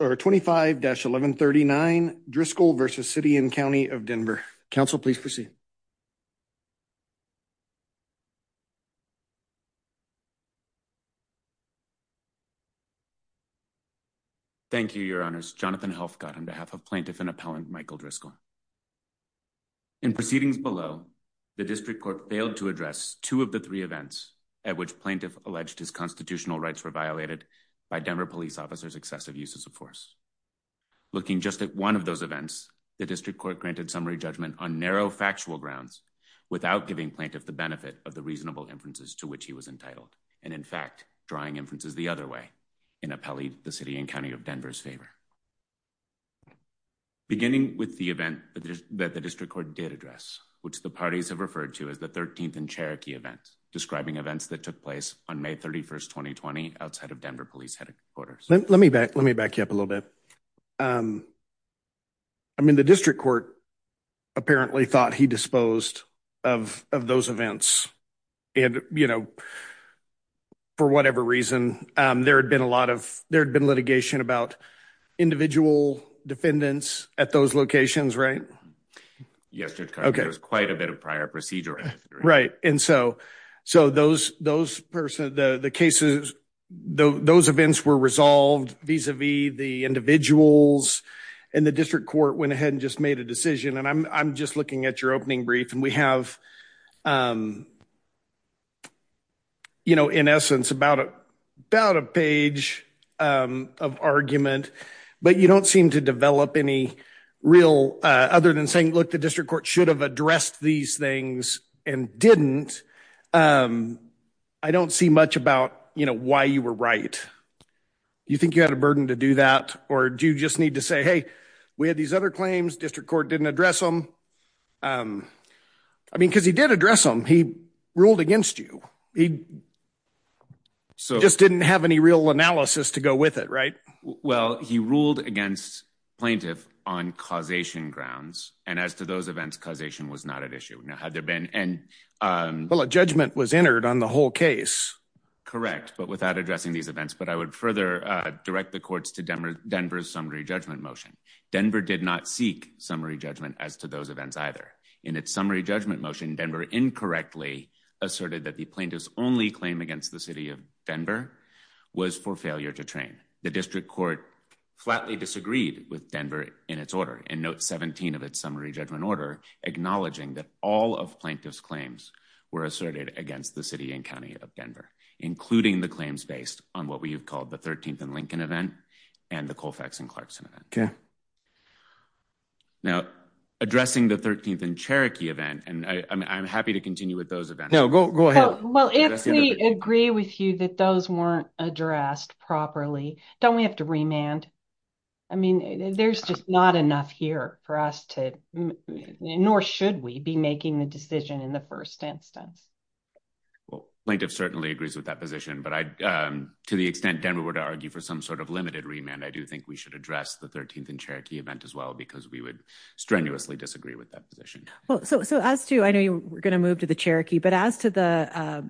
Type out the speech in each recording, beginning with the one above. or 25-1139 Driscoll v. City and County of Denver. Council, please proceed. Thank you, Your Honors. Jonathan Helfgott on behalf of Plaintiff and Appellant Michael Driscoll. In proceedings below, the District Court failed to address two of the three events at which Plaintiff alleged his constitutional rights were violated by Denver police officers' excessive uses of force. Looking just at one of those events, the District Court granted summary judgment on narrow factual grounds without giving Plaintiff the benefit of the reasonable inferences to which he was entitled and, in fact, drawing inferences the other way in Appellee v. City and County of Denver's favor. Beginning with the event that the District Court did address, which the parties have referred to as the 13th in Cherokee event, describing events that took place on May 31, 2020 outside of Denver police headquarters. Let me back you up a little bit. I mean, the District Court apparently thought he disposed of those events and, you know, for whatever reason, there had been litigation about individual defendants at those locations, right? Yes, there was quite a bit of prior procedure. Right. And so those events were resolved vis-a-vis the individuals and the District Court went ahead and just made a decision. And I'm just looking at your opening brief and we have, you know, in essence about a page of argument, but you don't seem to develop any real other than saying, look, the District Court should have addressed these things and didn't. I don't see much about, you know, why you were right. You think you had a burden to do that or do you just need to say, hey, we had these other claims. District Court didn't address them. I mean, because he did address them. He ruled against you. He just didn't have any real analysis to go with it. Right. Well, he ruled against plaintiff on causation grounds. And as to those events, causation was not an issue. Now, had there been and well, a judgment was entered on the whole case. Correct. But without addressing these events, but I would further direct the courts to Denver's summary judgment motion. Denver did not seek summary judgment as to those events either. In its summary judgment motion, Denver incorrectly asserted that the plaintiff's only claim against the city of Denver was for failure to train. The District Court flatly disagreed with Denver in its order and note 17 of its summary judgment order, acknowledging that all of plaintiff's claims were asserted against the city and county of Denver, including the claims based on what we have called the 13th and Lincoln event and the Colfax and Clarkson event. OK. Now, addressing the 13th and Cherokee event, and I'm happy to continue with those events. No, go ahead. Well, if we agree with you that those weren't addressed properly, don't we have to remand? I mean, there's just not enough here for us to nor should we be making the decision in the first instance. Well, plaintiff certainly agrees with that position, but to the extent Denver were to argue for some sort of limited remand, I do think we should address the 13th and Cherokee event as well, because we would strenuously disagree with that position. Well, so so as to I know we're going to move to the Cherokee, but as to the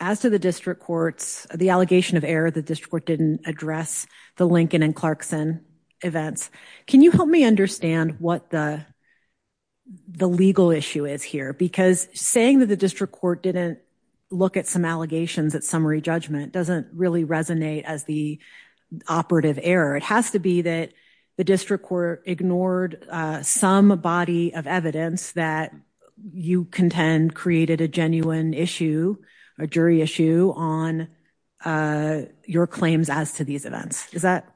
as to the district courts, the allegation of error, the district court didn't address the Lincoln and Clarkson events. Can you help me understand what the the legal issue is here? Because saying that the district court didn't look at some allegations at summary judgment doesn't really resonate as the operative error. It has to be that the district court ignored some body of evidence that you contend created a genuine issue, a jury issue on your claims as to these events. Is that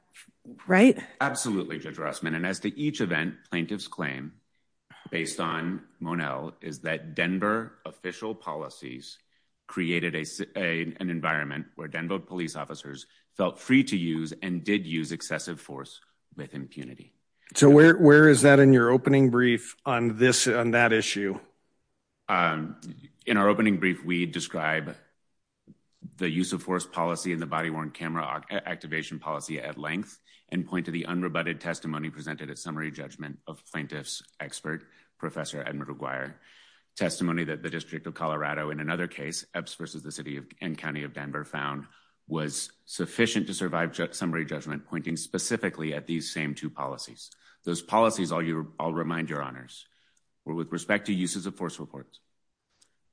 right? Absolutely, Judge Rossman, and as to each event, plaintiff's claim based on Monell is that Denver official policies created an environment where Denver police officers felt free to use and did use excessive force with impunity. So where is that in your opening brief on this on that issue? In our opening brief, we describe the use of force policy in the body worn camera activation policy at length and point to the unrebutted testimony presented at summary judgment of plaintiff's expert, Professor Edward McGuire, testimony that the District of Colorado in another case versus the city and county of Denver found was sufficient to survive summary judgment, pointing specifically at these same two policies. Those policies all your I'll remind your honors were with respect to uses of force reports.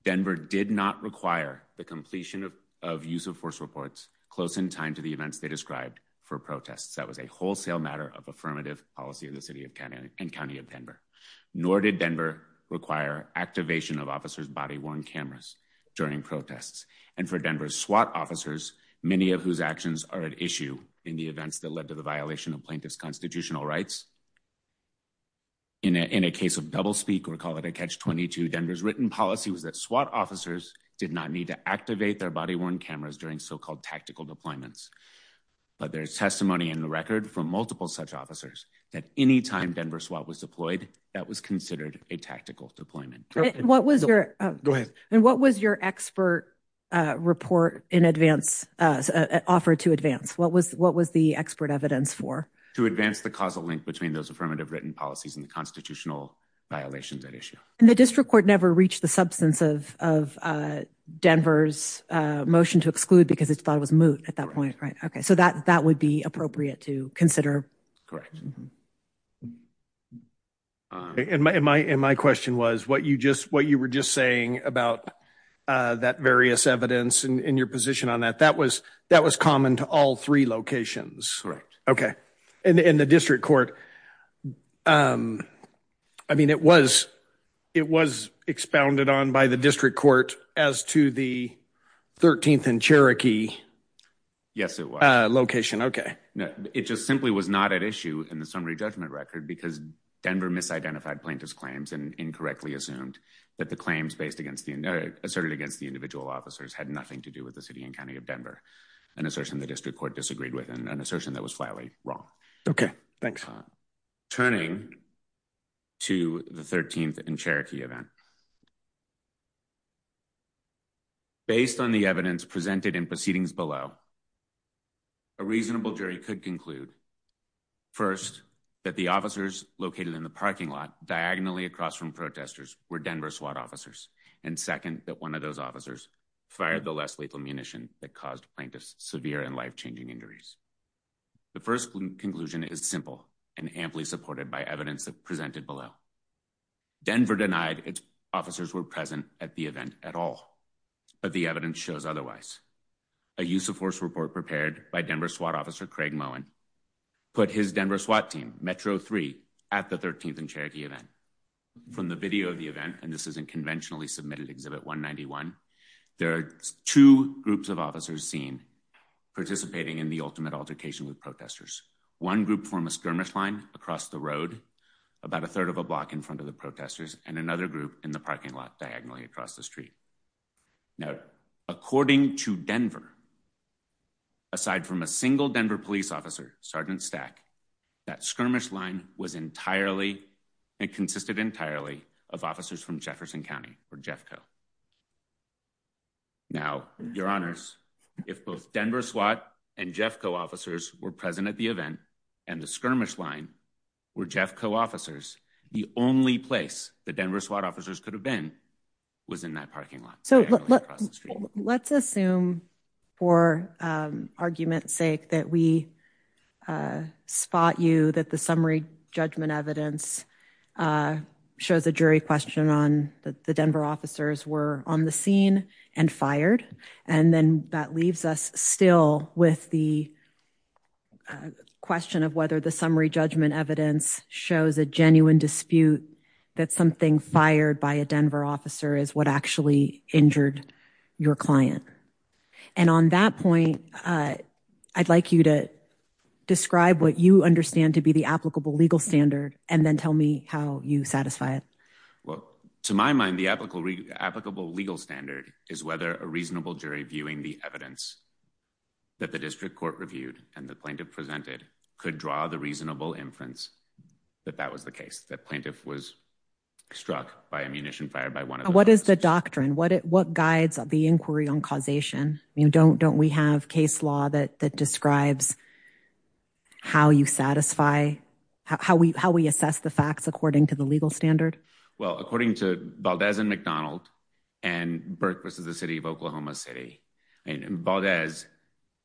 Denver did not require the completion of use of force reports close in time to the events they described for protests. That was a wholesale matter of affirmative policy in the city of Canada and county of Denver. Nor did Denver require activation of officers body worn cameras during protests and for Denver SWAT officers, many of whose actions are at issue in the events that led to the violation of plaintiff's constitutional rights. In a case of doublespeak or call it a catch 22, Denver's written policy was that SWAT officers did not need to activate their body worn cameras during so-called tactical deployments. But there's testimony in the record from multiple such officers that any time Denver SWAT was deployed, that was considered a tactical deployment. What was your go ahead and what was your expert report in advance offered to advance? What was the expert evidence for? To advance the causal link between those affirmative written policies and the constitutional violations at issue. And the district court never reached the substance of Denver's motion to exclude because it thought it was moot at that point, right? Okay, so that would be appropriate to consider. Correct. And my question was what you were just saying about that various evidence and your position on that. That was common to all three locations. Correct. Okay. And the district court, I mean, it was expounded on by the district court as to the 13th and Cherokee location. Okay. It just simply was not at issue in the summary judgment record because Denver misidentified plaintiff's claims and incorrectly assumed that the claims based against the asserted against the individual officers had nothing to do with the city and county of Denver. An assertion the district court disagreed with and an assertion that was flatly wrong. Okay, thanks. Turning to the 13th and Cherokee event. Based on the evidence presented in proceedings below, a reasonable jury could conclude first that the officers located in the parking lot diagonally across from protesters were Denver SWAT officers. And second, that one of those officers fired the less lethal munition that caused plaintiffs severe and life-changing injuries. The first conclusion is simple and amply supported by evidence that presented below. Denver denied its officers were present at the event at all, but the evidence shows otherwise. A use of force report prepared by Denver SWAT officer Craig Moen put his Denver SWAT team, Metro 3, at the 13th and Cherokee event. From the video of the event, and this isn't conventionally submitted Exhibit 191, there are two groups of officers seen participating in the ultimate altercation with protesters. One group from a skirmish line across the road about a third of a block in front of the protesters and another group in the parking lot diagonally across the street. Aside from a single Denver police officer, Sergeant Stack, that skirmish line was entirely and consisted entirely of officers from Jefferson County or Jeffco. Now, your honors, if both Denver SWAT and Jeffco officers were present at the event and the skirmish line were Jeffco officers, the only place the Denver SWAT officers could have been was in that parking lot. So let's assume for argument's sake that we spot you that the summary judgment evidence shows a jury question on the Denver officers were on the scene and fired, and then that leaves us still with the question of whether the summary is what actually injured your client. And on that point, I'd like you to describe what you understand to be the applicable legal standard and then tell me how you satisfy it. Well, to my mind, the applicable legal standard is whether a reasonable jury viewing the evidence that the district court reviewed and the plaintiff presented could draw the reasonable inference that that was the case, that plaintiff was struck by ammunition fired by one of them. What is the doctrine? What guides the inquiry on causation? Don't we have case law that describes how you satisfy, how we assess the facts according to the legal standard? Well, according to Valdez and McDonald and Burke v. The City of Oklahoma City, and Valdez,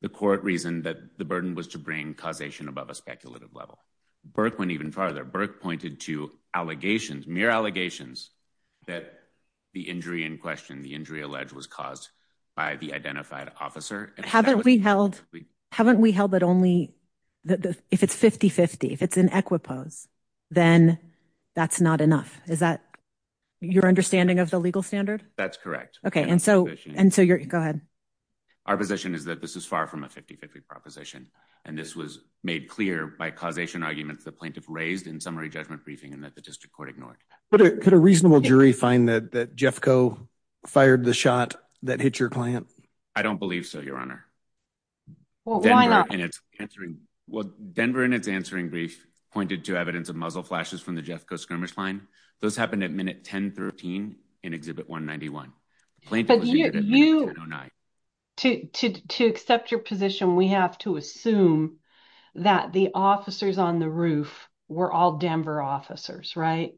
the court reasoned that the burden was to bring causation above a speculative level. Burke went even farther. Burke pointed to allegations, mere allegations, that the injury in question, the injury alleged, was caused by the identified officer. Haven't we held, haven't we held that only, if it's 50-50, if it's in equipose, then that's not enough. Is that your understanding of the legal standard? That's correct. Okay, and so, and so you're, go ahead. Our position is that this is far from a 50-50 proposition, and this was made clear by causation arguments the plaintiff raised in summary judgment briefing and that the district court ignored. But could a reasonable jury find that that Jeffco fired the shot that hit your client? I don't believe so, your honor. Well, why not? Well, Denver, in its answering brief, pointed to evidence of muzzle flashes from the Jeffco skirmish line. Those happened at minute 1013 in exhibit 191. But you, to accept your position, we have to assume that the officers on the roof were all Denver officers, right?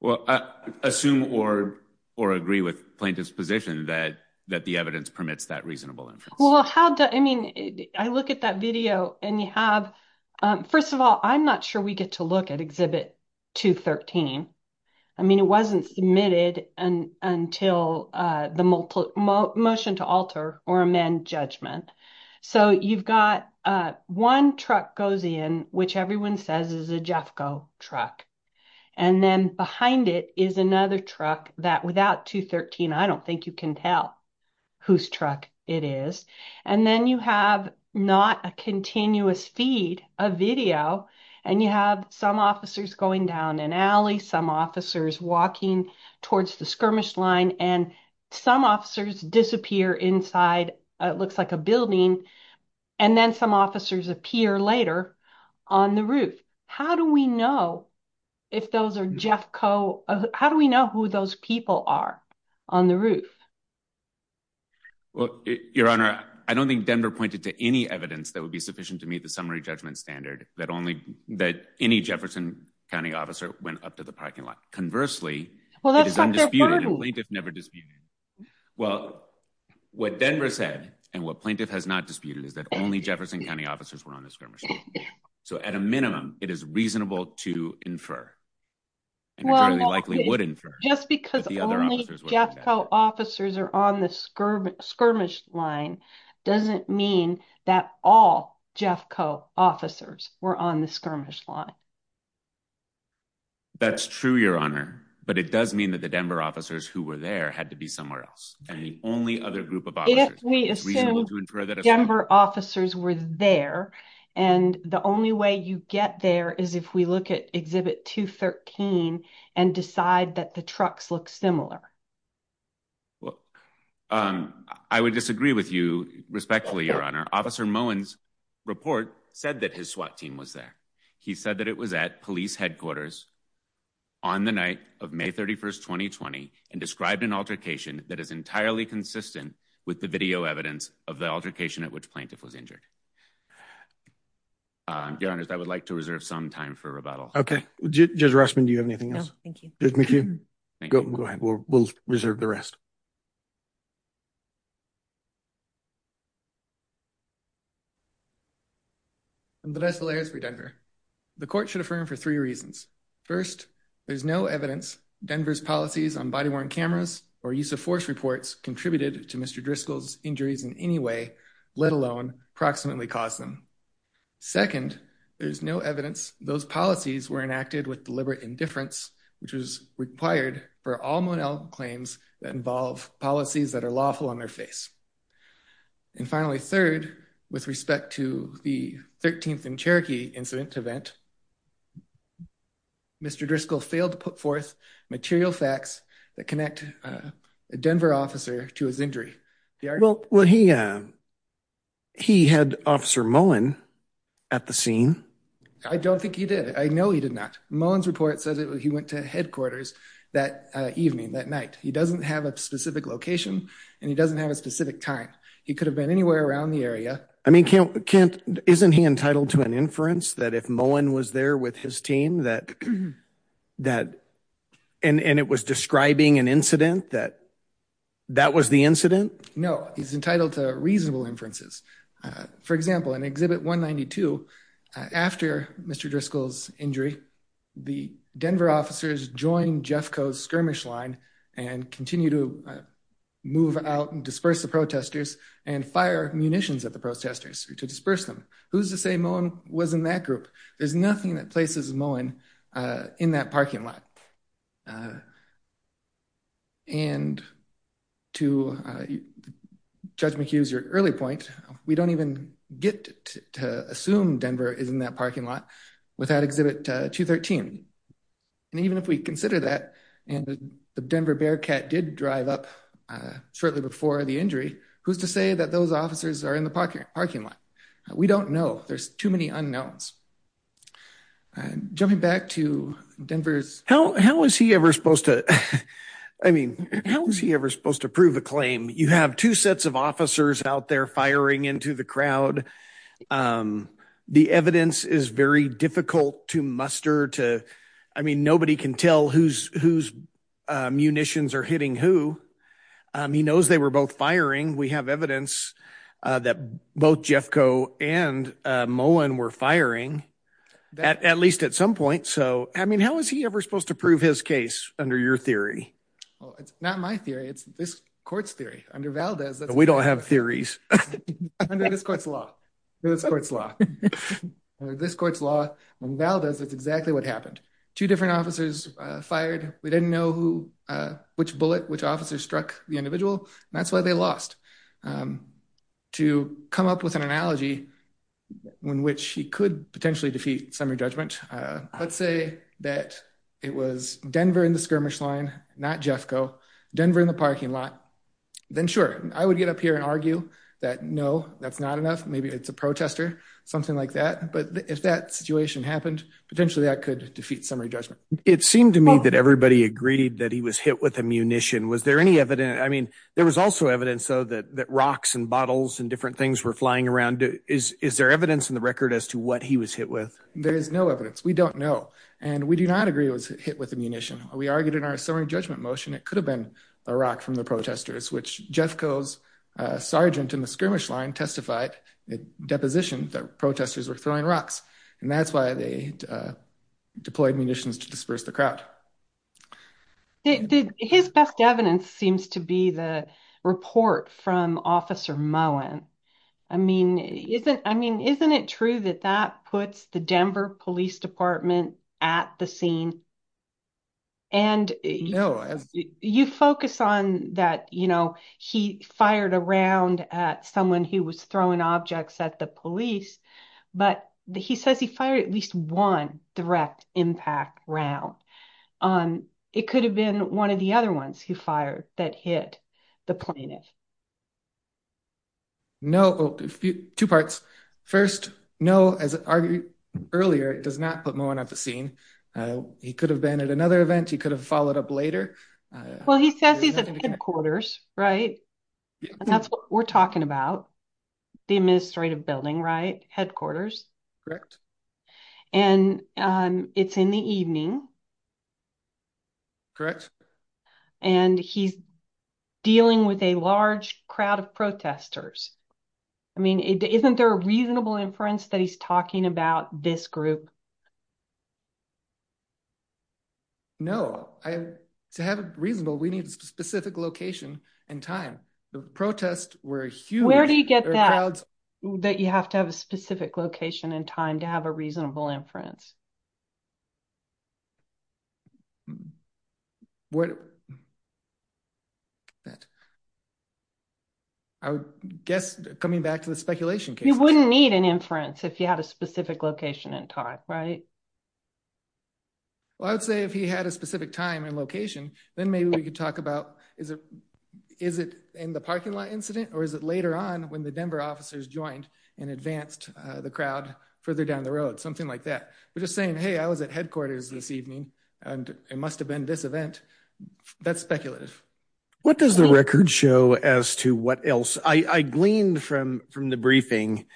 Well, assume or, or agree with plaintiff's position that, that the evidence permits that reasonable inference. Well, how do, I mean, I look at that video and you have, first of all, I'm not sure we get to look at exhibit 213. I mean, it wasn't submitted until the motion to alter or amend judgment. So, you've got one truck goes in, which everyone says is a Jeffco truck. And then behind it is another truck that without 213, I don't think you can tell whose truck it is. And then you have not a continuous feed, a video, and you have some officers going down an alley, some officers walking towards the skirmish line, and some officers disappear inside, it looks like a building. And then some officers appear later on the roof. How do we know if those are Jeffco, how do we know who those people are on the roof? Well, your honor, I don't think Denver pointed to any evidence that would be sufficient to meet the summary judgment standard that only that any Jefferson County officer went up to the parking lot. Conversely, plaintiff never disputed. Well, what Denver said and what plaintiff has not disputed is that only Jefferson County officers were on the skirmish. So at a minimum, it is reasonable to infer. Well, likely wouldn't just because Jeffco officers are on the skirmish skirmish line doesn't mean that all Jeffco officers were on the skirmish line. That's true, your honor. But it does mean that the Denver officers who were there had to be somewhere else. And the only other group of Denver officers were there. And the only way you get there is if we look at Exhibit 213 and decide that the trucks look similar. Well, I would disagree with you respectfully, your honor. Officer Moen's report said that his SWAT team was there. He said that it was at police headquarters on the night of May 31st, 2020, and described an altercation that is entirely consistent with the video evidence of the altercation at which plaintiff was injured. Your honor, I would like to reserve some time for rebuttal. Okay. Judge Rushman, do you have anything else? No, thank you. Judge McHugh, go ahead. We'll reserve the rest. I'm Brice Velares for Denver. The court should affirm for three reasons. First, there's no evidence Denver's policies on body-worn cameras or use of force reports contributed to Mr. Driscoll's injuries in any way, let alone proximately cause them. Second, there's no evidence those policies were enacted with deliberate indifference, which was required for all Moen claims that involve policies that are lawful on their face. And finally, third, with respect to the 13th and Cherokee incident event, Mr. Driscoll failed to put forth material facts that connect a Denver officer to his injury. Well, he had Officer Moen at the scene. I don't think he did. I know he did not. Moen's report says he went to headquarters that evening, that night. He doesn't have a specific location and he doesn't have a specific time. He could have been anywhere around the area. I mean, Kent, isn't he entitled to an inference that if Moen was there with his team and it was describing an incident that that was the incident? No, he's entitled to reasonable inferences. For example, in Exhibit 192, after Mr. Driscoll's injury, the Denver officers joined Jeffco's skirmish line and continue to move out and disperse the protesters and fire munitions at the protesters to disperse them. Who's to say Moen was in that group? There's nothing that places Moen in that parking lot. And to Judge McHugh's early point, we don't even get to assume Denver is in that parking lot without Exhibit 213. And even if we consider that and the Denver Bearcat did drive up shortly before the injury, who's to say that those officers are in the parking parking lot? We don't know. There's too many unknowns. Jumping back to Denver's... I mean, how is he ever supposed to prove a claim? You have two sets of officers out there firing into the crowd. The evidence is very difficult to muster. I mean, nobody can tell whose munitions are hitting who. He knows they were both firing. We have evidence that both Jeffco and Moen were firing, at least at some point. I mean, how is he ever supposed to prove his case under your theory? Well, it's not my theory. It's this court's theory. Under Valdez... We don't have theories. Under this court's law. Under this court's law, under Valdez, that's exactly what happened. Two different officers fired. We didn't know which bullet, which officer struck the individual. And that's why they lost. To come up with an analogy in which he could potentially defeat summary judgment, let's say that it was Denver in the skirmish line, not Jeffco. Denver in the parking lot. Then sure, I would get up here and argue that no, that's not enough. Maybe it's a protester, something like that. But if that situation happened, potentially that could defeat summary judgment. It seemed to me that everybody agreed that he was hit with ammunition. Was there any evidence? I mean, there was also evidence, though, that rocks and bottles and different things were flying around. Is there evidence in the record as to what he was hit with? There is no evidence. We don't know. And we do not agree it was hit with ammunition. We argued in our summary judgment motion. It could have been a rock from the protesters, which Jeffco's sergeant in the skirmish line testified at deposition that protesters were throwing rocks. And that's why they deployed munitions to disperse the crowd. His best evidence seems to be the report from Officer Mullen. I mean, isn't it true that that puts the Denver Police Department at the scene? You focus on that he fired a round at someone who was throwing objects at the police, but he says he fired at least one direct impact round. It could have been one of the other ones he fired that hit the plaintiff. No, two parts. First, no, as argued earlier, it does not put Mullen at the scene. He could have been at another event. He could have followed up later. Well, he says he's at headquarters, right? That's what we're talking about. The administrative building, right? Headquarters. And it's in the evening. Correct. And he's dealing with a large crowd of protesters. I mean, isn't there a reasonable inference that he's talking about this group? No, to have it reasonable, we need a specific location and time. The protests were huge. Where do you get that? That you have to have a specific location and time to have a reasonable inference. What? That. I would guess coming back to the speculation case. You wouldn't need an inference if you had a specific location and time, right? Well, I would say if he had a specific time and location, then maybe we could talk about is it in the parking lot incident, or is it later on when the Denver officers joined and advanced the crowd further down the road, something like that. We're just saying, hey, I was at headquarters this evening, and it must have been this event. That's speculative. What does the record show as to what else? I gleaned from the briefing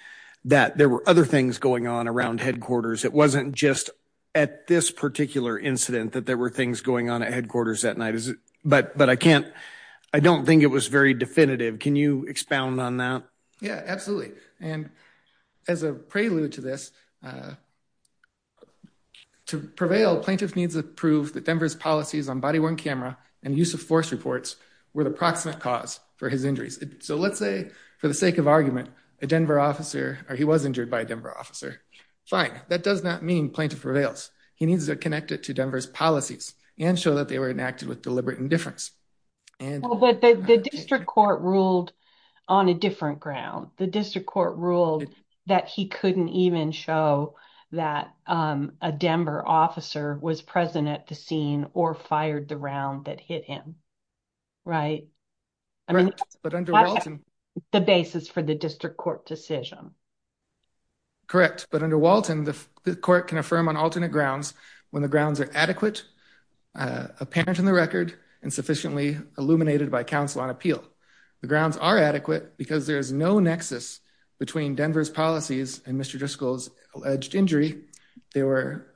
that there were other things going on around headquarters. It wasn't just at this particular incident that there were things going on at headquarters that night, is it? But I don't think it was very definitive. Can you expound on that? Yeah, absolutely. And as a prelude to this, to prevail, plaintiff needs to prove that Denver's policies on body-worn camera and use of force reports were the proximate cause for his injuries. So let's say for the sake of argument, a Denver officer, or he was injured by a Denver officer. Fine, that does not mean plaintiff prevails. He needs to connect it to Denver's policies and show that they were enacted with deliberate indifference. But the district court ruled on a different ground. The district court ruled that he couldn't even show that a Denver officer was present at the scene or fired the round that hit him, right? Correct, but under Walton- The basis for the district court decision. Correct, but under Walton, the court can affirm on alternate grounds when the grounds are adequate, apparent in the record, and sufficiently illuminated by counsel on appeal. The grounds are adequate because there is no nexus between Denver's policies and Mr. Driscoll's alleged injury. They were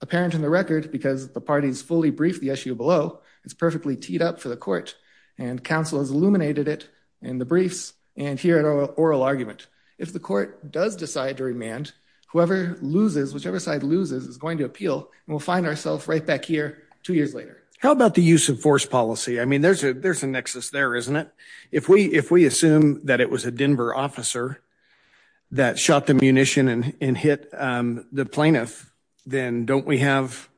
apparent in the record because the parties fully briefed the issue below. It's perfectly teed up for the court and counsel has illuminated it in the briefs and here at oral argument. If the court does decide to remand, whoever loses, whichever side loses is going to appeal and we'll find ourselves right back here two years later. How about the use of force policy? There's a nexus there, isn't it? If we assume that it was a Denver officer that shot the munition and hit the plaintiff, then don't we have,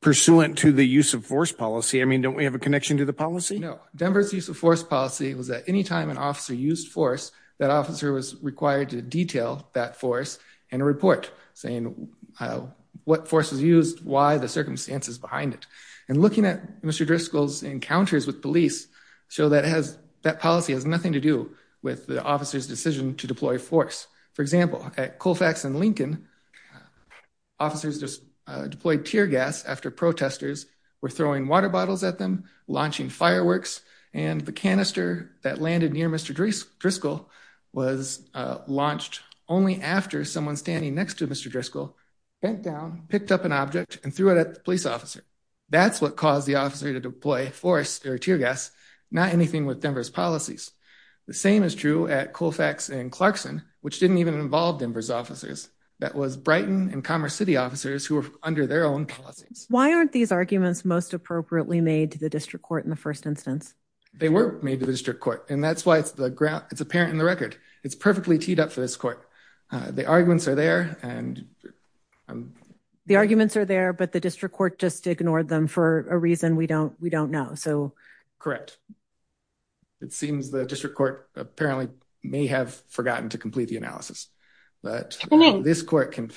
pursuant to the use of force policy, don't we have a connection to the policy? No, Denver's use of force policy was that anytime an officer used force, that officer was required to detail that force in a report saying what force was used, why, the circumstances behind it. And looking at Mr. Driscoll's encounters with police, show that policy has nothing to do with the officer's decision to deploy force. For example, at Colfax and Lincoln, officers just deployed tear gas after protesters were throwing water bottles at them, launching fireworks, and the canister that landed near Mr. Driscoll was launched only after someone standing next to Mr. Driscoll bent down, picked up an object and threw it at the police officer. That's what caused the officer to deploy force or tear gas, not anything with Denver's policies. The same is true at Colfax and Clarkson, which didn't even involve Denver's officers. That was Brighton and Commerce City officers who were under their own policies. Why aren't these arguments most appropriately made to the district court in the first instance? They were made to the district court and that's why it's apparent in the record. It's perfectly teed up for this court. The arguments are there and... The arguments are there, but the district court just ignored them for a reason we don't know. So... It seems the district court apparently may have forgotten to complete the analysis, but this court can...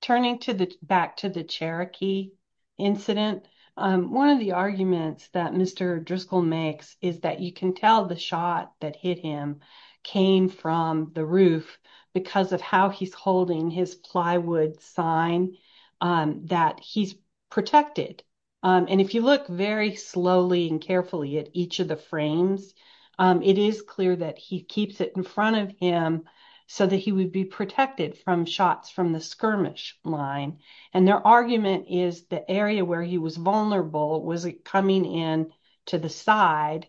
Turning back to the Cherokee incident, one of the arguments that Mr. Driscoll makes is that you can tell the shot that hit him came from the roof because of how he's holding his plywood sign that he's protected. And if you look very slowly and carefully at each of the frames, it is clear that he keeps it in front of him so that he would be protected from shots from the skirmish line. And their argument is the area where he was vulnerable was coming in to the side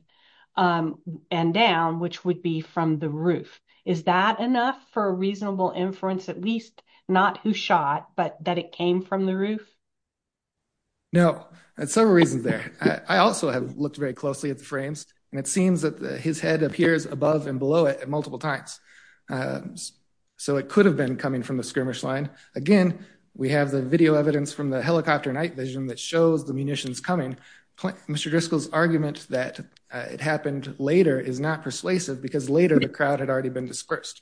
and down, which would be from the roof. Is that enough for a reasonable inference? At least not who shot, but that it came from the roof? No, there's several reasons there. I also have looked very closely at the frames and it seems that his head appears above and below it at multiple times. So it could have been coming from the skirmish line. Again, we have the video evidence from the helicopter night vision that shows the munitions coming. Mr. Driscoll's argument that it happened later is not persuasive because later the crowd had already been dispersed.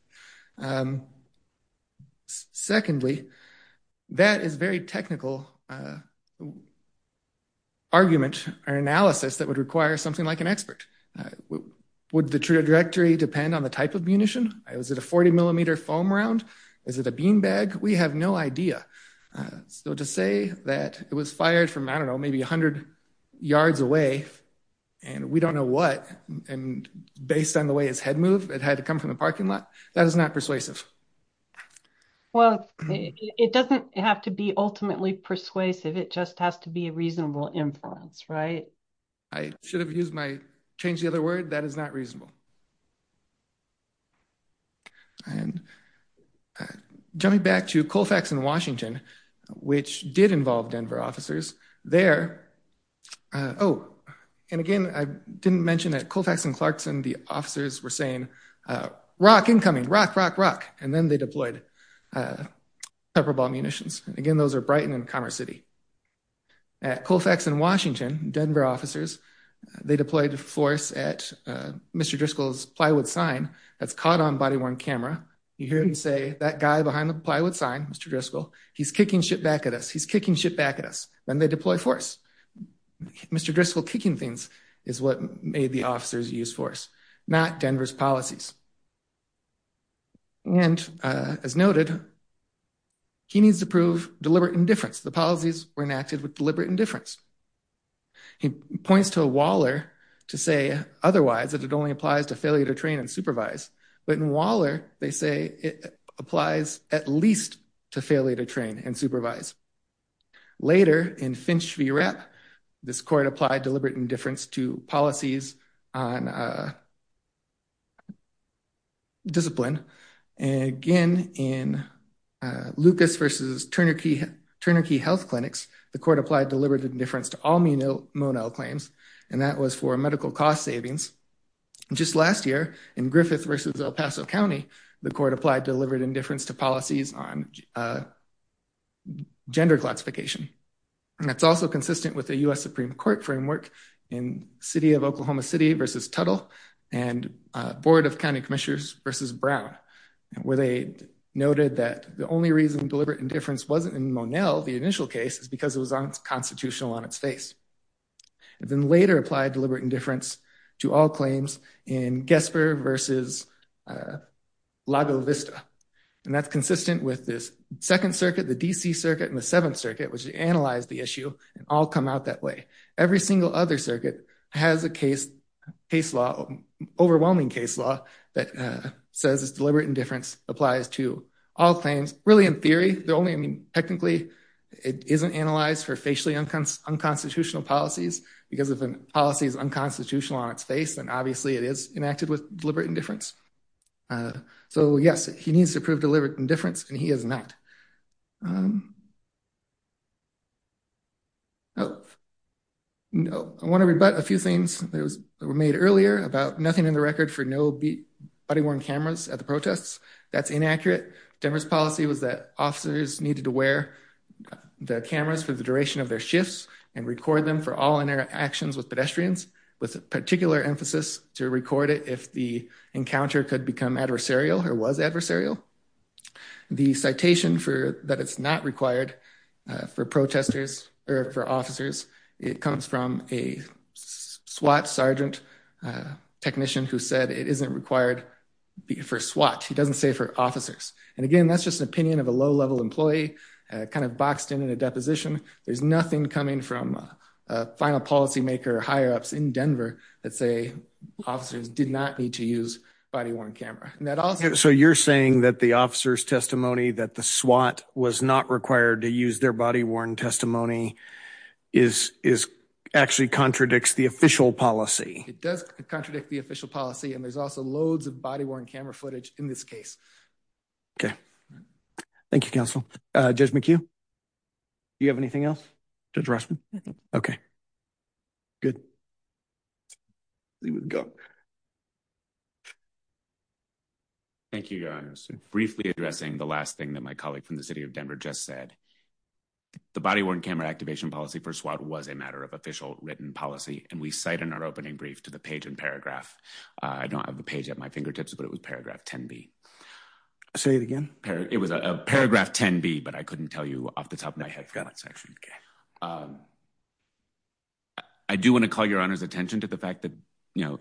Secondly, that is very technical argument or analysis that would require something like an expert. Would the trajectory depend on the type of munition? Was it a 40 millimeter foam round? Is it a beanbag? We have no idea. So to say that it was fired from, I don't know, maybe a hundred yards away and we don't know what, and based on the way his head moved, it had to come from the parking lot. That is not persuasive. Well, it doesn't have to be ultimately persuasive. It just has to be a reasonable influence, right? I should have used my, changed the other word. That is not reasonable. And jumping back to Colfax and Washington, which did involve Denver officers there. Oh, and again, I didn't mention that Colfax and Clarkson, the officers were saying, rock incoming, rock, rock, rock. And then they deployed pepper ball munitions. Again, those are Brighton and Commerce City. At Colfax and Washington, Denver officers, they deployed force at Mr. Driscoll's plywood sign that's caught on body-worn camera. You hear him say, that guy behind the plywood sign, Mr. Driscoll, he's kicking shit back at us. He's kicking shit back at us. Then they deploy force. Mr. Driscoll kicking things is what made the officers use force, not Denver's policies. And as noted, he needs to prove deliberate indifference. The policies were enacted with deliberate indifference. He points to a Waller to say otherwise, that it only applies to failure to train and supervise. But in Waller, they say it applies at least to failure to train and supervise. Later in Finch v. Rapp, this court applied deliberate indifference to policies on discipline. And again, in Lucas v. Turner Key Health Clinics, the court applied deliberate indifference to all Monell claims. And that was for medical cost savings. Just last year, in Griffith v. El Paso County, the court applied deliberate indifference to policies on gender classification. And that's also consistent with the U.S. Supreme Court framework in City of Oklahoma City v. Tuttle and Board of County Commissioners v. Brown, where they noted that the only reason deliberate indifference wasn't in Monell, the initial case, is because it was unconstitutional on its face. It then later applied deliberate indifference to all claims in Gesper v. Lago Vista. And that's consistent with this Second Circuit, the D.C. Circuit, and the Seventh Circuit, which analyzed the issue and all come out that way. Every single other circuit has a case law, overwhelming case law, that says deliberate indifference applies to all claims, really in theory. They're only, I mean, technically, it isn't analyzed for facially unconstitutional policies because if a policy is unconstitutional on its face, then obviously it is enacted with deliberate indifference. So yes, he needs to prove deliberate indifference, and he has not. Oh, no, I want to rebut a few things that were made earlier about nothing in the record for no body-worn cameras at the protests. That's inaccurate. Denver's policy was that officers needed to wear the cameras for the duration of their shifts and record them for all interactions with pedestrians, with a particular emphasis to record it if the encounter could become adversarial or was adversarial. The citation that it's not required for protesters or for officers, it comes from a SWAT sergeant technician who said it isn't required for SWAT. He doesn't say for officers. And again, that's just an opinion of a low-level employee, kind of boxed in in a deposition. There's nothing coming from a final policymaker or higher-ups in Denver that say officers did not need to use body-worn camera. So you're saying that the officer's testimony, that the SWAT was not required to use their body-worn testimony is actually contradicts the official policy. It does contradict the official policy, and there's also loads of body-worn camera footage in this case. Okay. Thank you, counsel. Judge McHugh, do you have anything else? Judge Rossman? Okay. Good. Thank you, guys. Briefly addressing the last thing that my colleague from the city of Denver just said. The body-worn camera activation policy for SWAT was a matter of official written policy, and we cite in our opening brief to the page and paragraph. I don't have the page at my fingertips, but it was paragraph 10B. Say it again? It was a paragraph 10B, but I couldn't tell you off the top of my head. I forgot that section. Okay. I do want to call your honor's attention to the fact that, you know,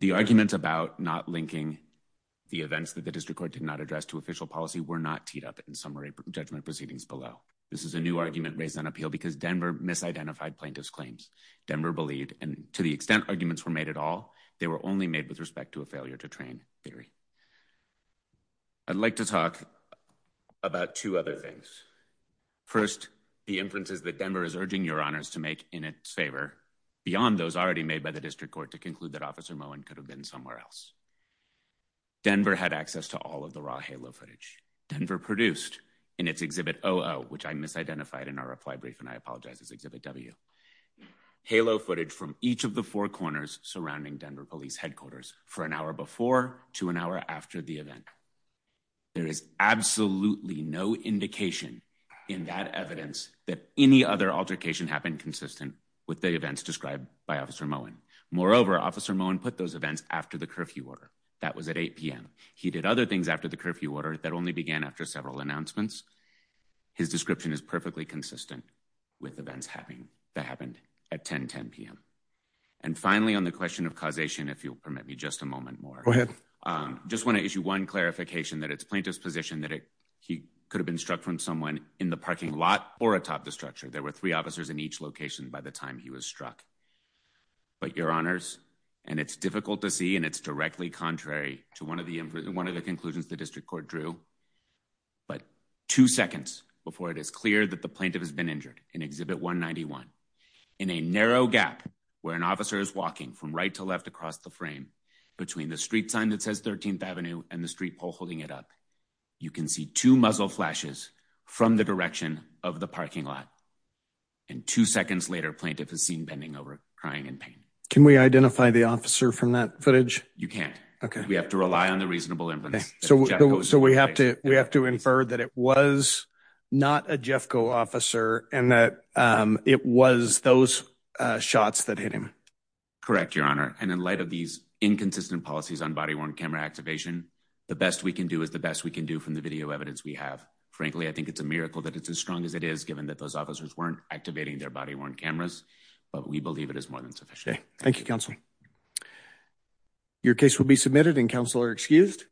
the argument about not linking the events that the district court did not address to official policy were not teed up in summary judgment proceedings below. This is a new argument raised on appeal because Denver misidentified plaintiff's claims. Denver believed, and to the extent arguments were made at all, they were only made with respect to a failure to train theory. I'd like to talk about two other things. First, the inferences that Denver is urging your honors to make in its favor beyond those already made by the district court to conclude that Officer Mowen could have been somewhere else. Denver had access to all of the raw halo footage Denver produced in its Exhibit OO, which I misidentified in our reply brief, and I apologize, it's Exhibit W. Halo footage from each of the four corners surrounding Denver Police Headquarters for an hour before to an hour after the event. There is absolutely no indication in that evidence that any other altercation happened consistent with the events described by Officer Mowen. Moreover, Officer Mowen put those events after the curfew order, that was at 8 p.m. He did other things after the curfew order that only began after several announcements. His description is perfectly consistent with events that happened at 10, 10 p.m. And finally, on the question of causation, if you'll permit me just a moment more. Just wanna issue one clarification that it's plaintiff's position that he could have been struck from someone in the parking lot or atop the structure. There were three officers in each location by the time he was struck. But your honors, and it's difficult to see and it's directly contrary to one of the conclusions the District Court drew, but two seconds before it is clear that the plaintiff has been injured in Exhibit 191, in a narrow gap where an officer is walking from right to left across the frame between the street sign that says 13th Avenue and the street pole holding it up, you can see two muzzle flashes from the direction of the parking lot. And two seconds later, plaintiff is seen bending over, crying in pain. Can we identify the officer from that footage? You can't. Okay. We have to rely on the reasonable inference. So we have to infer that it was not a Jeffco officer and that it was those shots that hit him. Correct, your honor. And in light of these inconsistent policies on body-worn camera activation, the best we can do is the best we can do from the video evidence we have. Frankly, I think it's a miracle that it's as strong as it is, that those officers weren't activating their body-worn cameras, but we believe it is more than sufficient. Thank you, counsel. Your case will be submitted and counsel are excused.